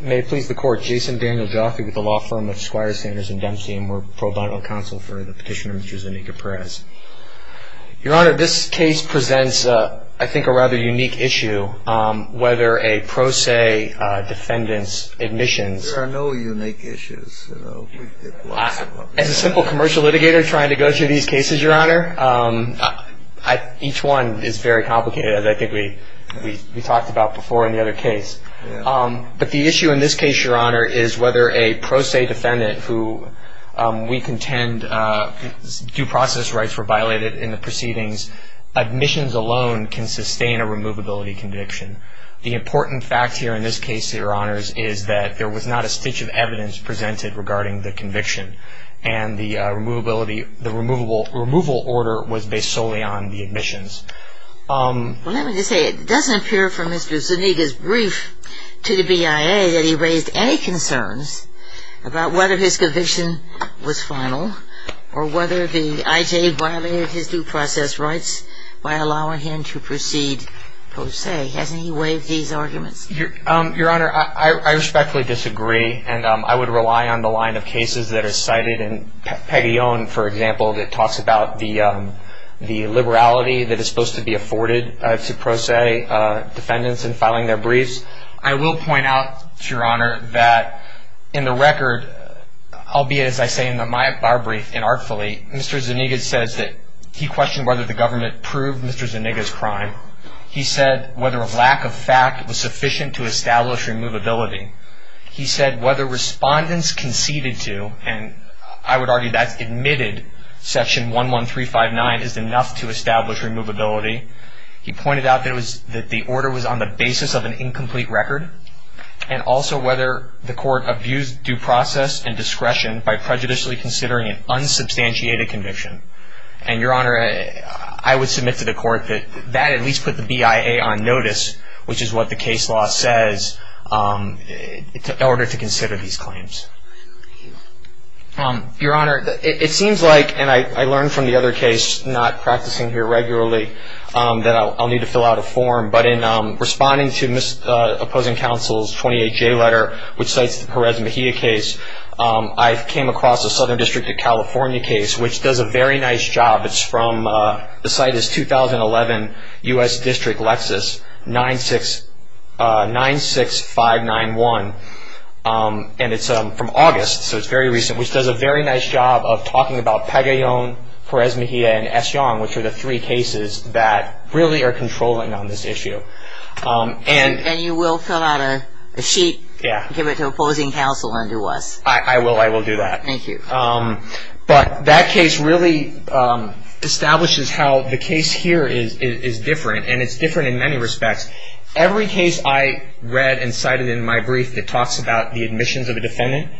May it please the Court, Jason Daniel Joffrey with the law firm of Squire Sanders & Dempsey and we're pro bono counsel for the petitioner, Mr. Zuniga-Perez. Your Honor, this case presents, I think, a rather unique issue, whether a pro se defendant's admissions There are no unique issues. As a simple commercial litigator trying to go through these cases, Your Honor, each one is very complicated, as I think we talked about before in the other case. But the issue in this case, Your Honor, is whether a pro se defendant who we contend due process rights were violated in the proceedings, admissions alone can sustain a removability conviction. The important fact here in this case, Your Honors, is that there was not a stitch of evidence presented regarding the conviction and the removal order was based solely on the admissions. Well, let me just say, it doesn't appear from Mr. Zuniga's brief to the BIA that he raised any concerns about whether his conviction was final or whether the IJ violated his due process rights by allowing him to proceed pro se. Hasn't he waived these arguments? Your Honor, I respectfully disagree and I would rely on the line of cases that are cited in Peguillon, for example, that talks about the liberality that is supposed to be afforded to pro se defendants in filing their briefs. I will point out, Your Honor, that in the record, albeit as I say in my brief, inartfully, Mr. Zuniga says that he questioned whether the government proved Mr. Zuniga's crime. He said whether a lack of fact was sufficient to establish removability. He said whether respondents conceded to, and I would argue that's admitted, section 11359 is enough to establish removability. He pointed out that the order was on the basis of an incomplete record and also whether the court abused due process and discretion by prejudicially considering an unsubstantiated conviction. And, Your Honor, I would submit to the court that that at least put the BIA on notice, which is what the case law says, in order to consider these claims. Your Honor, it seems like, and I learned from the other case, not practicing here regularly, that I'll need to fill out a form, but in responding to opposing counsel's 28-J letter, which cites the Perez Mejia case, I came across a Southern District of California case, which does a very nice job. It's from, the site is 2011, U.S. District, Lexus, 96591, and it's from August, so it's very recent, which does a very nice job of talking about Pagayon, Perez Mejia, and Essiong, which are the three cases that really are controlling on this issue. And you will fill out a sheet and give it to opposing counsel and do us? I will, I will do that. Thank you. But that case really establishes how the case here is different, and it's different in many respects. Every case I read and cited in my brief that talks about the admissions of a defendant,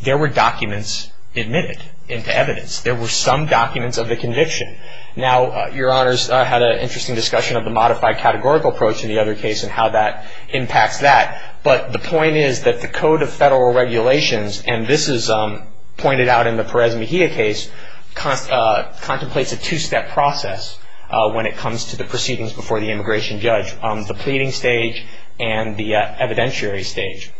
there were documents admitted into evidence. There were some documents of the conviction. Now, Your Honors, I had an interesting discussion of the modified categorical approach in the other case and how that impacts that, but the point is that the Code of Federal Regulations, and this is pointed out in the Perez Mejia case, contemplates a two-step process when it comes to the proceedings before the immigration judge, the pleading stage and the evidentiary stage.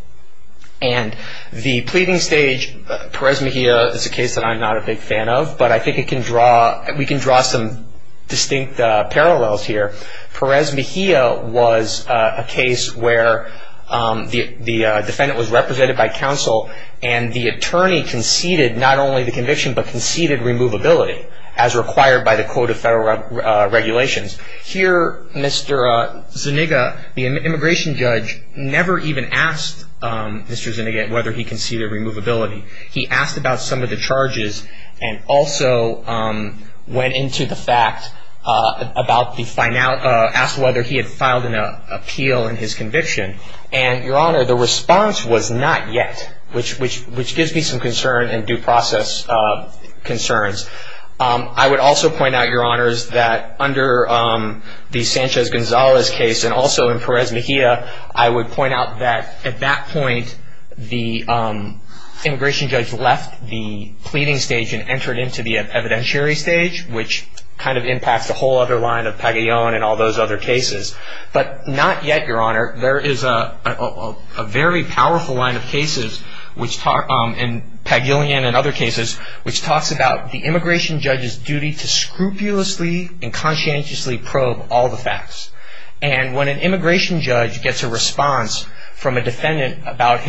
And the pleading stage, Perez Mejia is a case that I'm not a big fan of, but I think we can draw some distinct parallels here. Perez Mejia was a case where the defendant was represented by counsel and the attorney conceded not only the conviction but conceded removability as required by the Code of Federal Regulations. Here, Mr. Zuniga, the immigration judge, never even asked Mr. Zuniga whether he conceded removability. He asked about some of the charges and also went into the fact about the find out, asked whether he had filed an appeal in his conviction. And, Your Honor, the response was not yet, which gives me some concern and due process concerns. I would also point out, Your Honors, that under the Sanchez-Gonzalez case and also in Perez Mejia, I would point out that at that point the immigration judge left the pleading stage and entered into the evidentiary stage, which kind of impacts the whole other line of Pagillon and all those other cases. But not yet, Your Honor. There is a very powerful line of cases in Pagillon and other cases, which talks about the immigration judge's duty to scrupulously and conscientiously probe all the facts. And when an immigration judge gets a response from a defendant about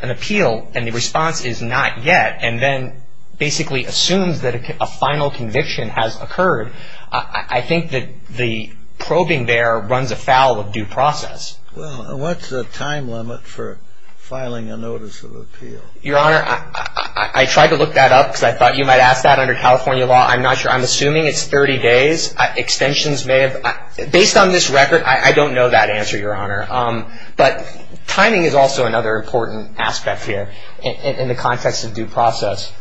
an appeal and the response is not yet and then basically assumes that a final conviction has occurred, I think that the probing there runs afoul of due process. Well, what's the time limit for filing a notice of appeal? Your Honor, I tried to look that up because I thought you might ask that under California law. I'm not sure. I'm assuming it's 30 days. Based on this record, I don't know that answer, Your Honor. But timing is also another important aspect here in the context of due process.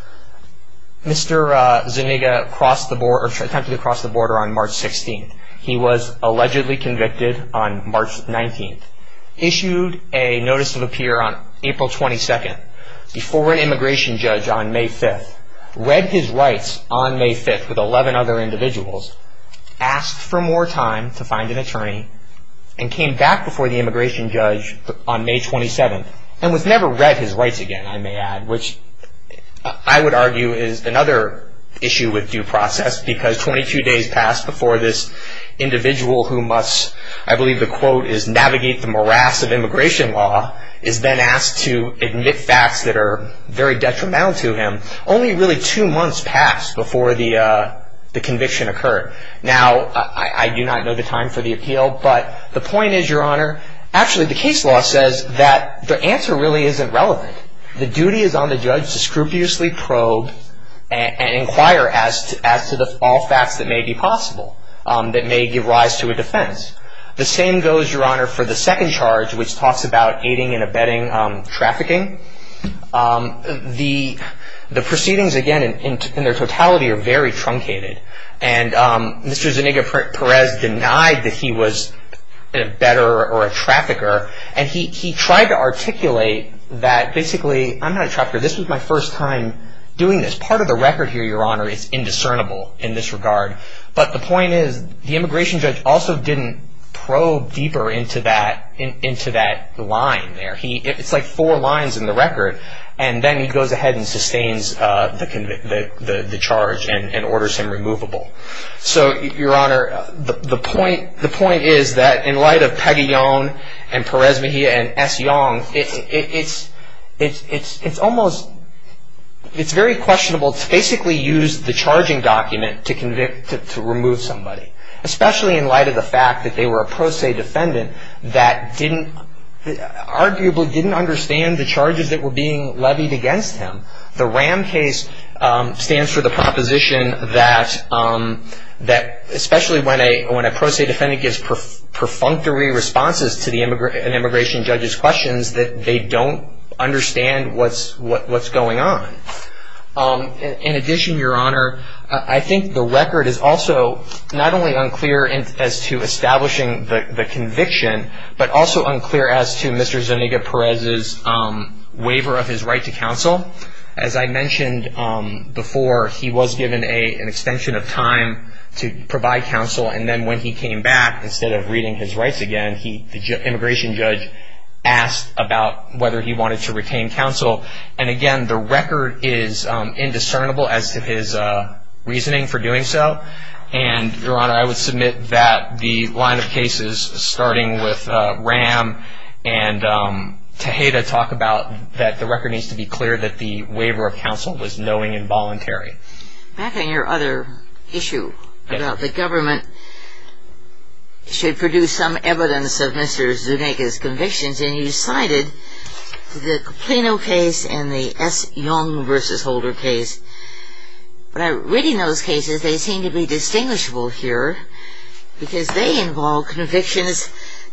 Mr. Zuniga attempted to cross the border on March 16th. He was allegedly convicted on March 19th, issued a notice of appeal on April 22nd, before an immigration judge on May 5th, read his rights on May 5th with 11 other individuals, asked for more time to find an attorney, and came back before the immigration judge on May 27th and was never read his rights again, I may add, which I would argue is another issue with due process because 22 days passed before this individual who must, I believe the quote is, navigate the morass of immigration law is then asked to admit facts that are very detrimental to him. Only really two months passed before the conviction occurred. Now, I do not know the time for the appeal, but the point is, Your Honor, actually the case law says that the answer really isn't relevant. The duty is on the judge to scrupulously probe and inquire as to all facts that may be possible that may give rise to a defense. The same goes, Your Honor, for the second charge, which talks about aiding and abetting trafficking. The proceedings, again, in their totality are very truncated, and Mr. Zuniga-Perez denied that he was an abetter or a trafficker, and he tried to articulate that basically, I'm not a trafficker, this was my first time doing this. Part of the record here, Your Honor, is indiscernible in this regard, but the point is, the immigration judge also didn't probe deeper into that line there. It's like four lines in the record, and then he goes ahead and sustains the charge and orders him removable. So, Your Honor, the point is that in light of Peguillon and Perez-Mejia and S. Yong, it's almost, it's very questionable to basically use the charging document to remove somebody, especially in light of the fact that they were a pro se defendant that arguably didn't understand the charges that were being levied against him. The RAM case stands for the proposition that, especially when a pro se defendant gives perfunctory responses to an immigration judge's questions, that they don't understand what's going on. In addition, Your Honor, I think the record is also not only unclear as to establishing the conviction, but also unclear as to Mr. Zuniga-Perez's waiver of his right to counsel. As I mentioned before, he was given an extension of time to provide counsel, and then when he came back, instead of reading his rights again, the immigration judge asked about whether he wanted to retain counsel. And again, the record is indiscernible as to his reasoning for doing so. And, Your Honor, I would submit that the line of cases starting with RAM and Tejeda talk about that the record needs to be clear that the waiver of counsel was knowing and voluntary. Back on your other issue about the government should produce some evidence of Mr. Zuniga's convictions, and you cited the Plano case and the S. Young v. Holder case. But reading those cases, they seem to be distinguishable here because they involve convictions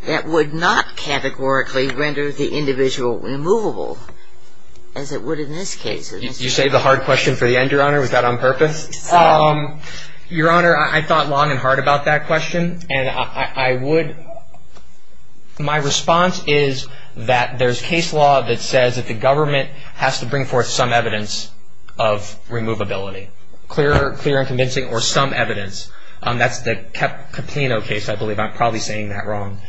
that would not categorically render the individual removable as it would in this case. You saved the hard question for the end, Your Honor. Was that on purpose? Your Honor, I thought long and hard about that question, and I would. My response is that there's case law that says that the government has to bring forth some evidence of removability, clear and convincing, or some evidence. That's the Plano case, I believe. I'm probably saying that wrong.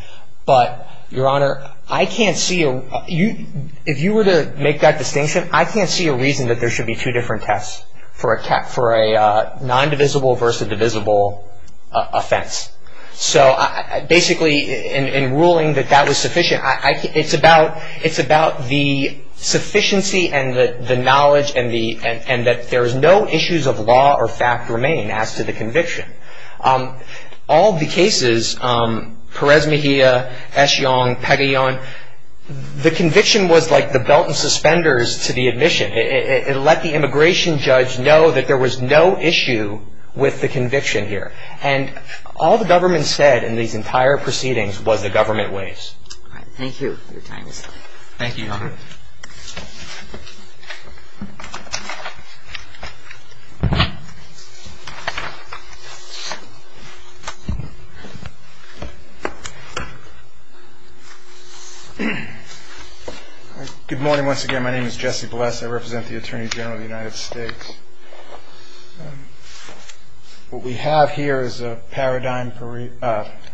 But, Your Honor, I can't see a – if you were to make that distinction, I can't see a reason that there should be two different tests for a non-divisible versus divisible offense. So, basically, in ruling that that was sufficient, it's about the sufficiency and the knowledge and that there's no issues of law or fact remain as to the conviction. All the cases, Perez-Mejia, Eshiong, Pegayon, the conviction was like the belt and suspenders to the admission. It let the immigration judge know that there was no issue with the conviction here. And all the government said in these entire proceedings was the government weighs. All right. Thank you. Your time is up. Thank you, Your Honor. Thank you. Good morning, once again. My name is Jesse Bless. I represent the Attorney General of the United States. What we have here is a Paradigm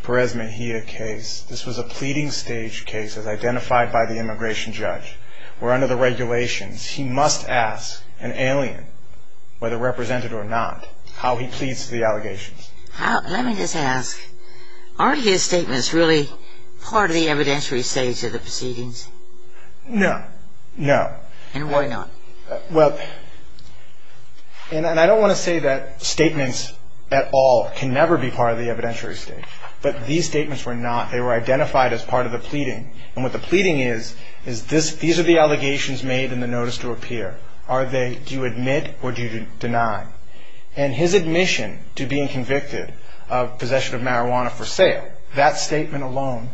Perez-Mejia case. This was a pleading stage case as identified by the immigration judge where, under the regulations, he must ask an alien, whether represented or not, how he pleads to the allegations. Let me just ask, are his statements really part of the evidentiary stage of the proceedings? No. No. And why not? Well, and I don't want to say that statements at all can never be part of the evidentiary stage. But these statements were not. They were identified as part of the pleading. And what the pleading is, is these are the allegations made in the notice to appear. Do you admit or do you deny? And his admission to being convicted of possession of marijuana for sale, that statement alone,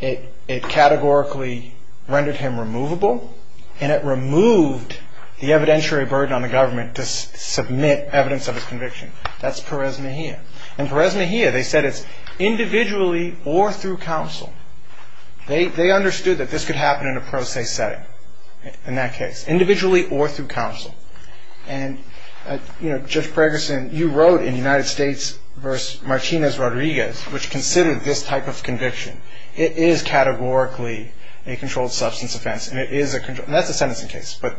it categorically rendered him removable and it removed the evidentiary burden on the government to submit evidence of his conviction. That's Perez-Mejia. And Perez-Mejia, they said it's individually or through counsel. They understood that this could happen in a pro se setting in that case, individually or through counsel. And, you know, Judge Pregerson, you wrote in United States v. Martinez-Rodriguez, which considered this type of conviction, it is categorically a controlled substance offense. And that's a sentencing case. But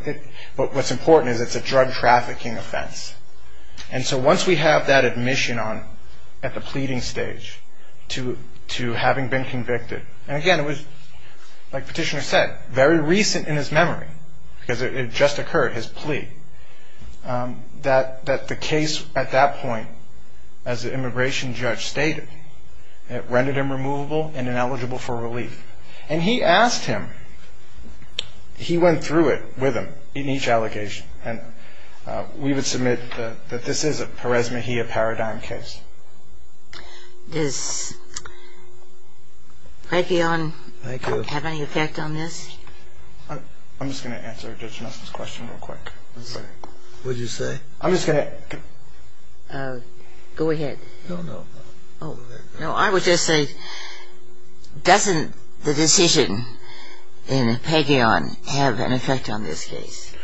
what's important is it's a drug trafficking offense. And so once we have that admission at the pleading stage to having been convicted, and, again, it was, like Petitioner said, very recent in his memory because it had just occurred, his plea, that the case at that point, as the immigration judge stated, it rendered him removable and ineligible for relief. And he asked him, he went through it with him in each allegation. And we would submit that this is a Perez-Mejia paradigm case. Does Pagheon have any effect on this? I'm just going to answer Judge Nussen's question real quick. What did you say? I'm just going to... Go ahead. No, no. I would just say, doesn't the decision in Pagheon have an effect on this case?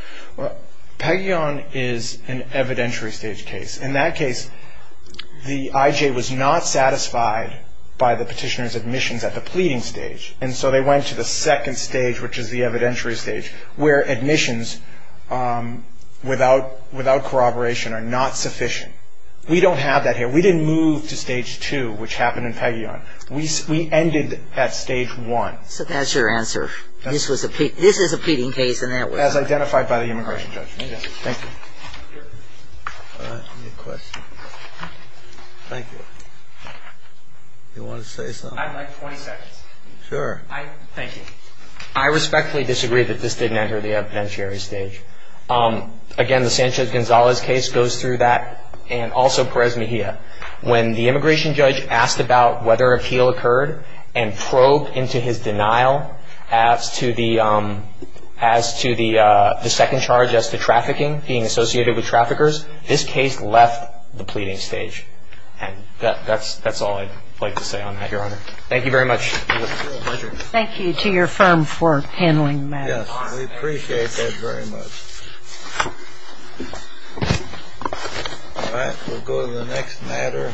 Pagheon is an evidentiary stage case. In that case, the IJ was not satisfied by the Petitioner's admissions at the pleading stage. And so they went to the second stage, which is the evidentiary stage, where admissions without corroboration are not sufficient. We don't have that here. We didn't move to stage two, which happened in Pagheon. We ended at stage one. So that's your answer. This is a pleading case in that way. As identified by the immigration judge. Thank you. Do you want to say something? I'd like 20 seconds. Sure. Thank you. I respectfully disagree that this didn't enter the evidentiary stage. Again, the Sanchez-Gonzalez case goes through that, and also Perez-Mejia. When the immigration judge asked about whether appeal occurred and probed into his denial as to the second charge, as to trafficking, being associated with traffickers, this case left the pleading stage. And that's all I'd like to say on that, Your Honor. Thank you very much. Thank you to your firm for handling that. Yes, we appreciate that very much. All right. We'll go to the next matter.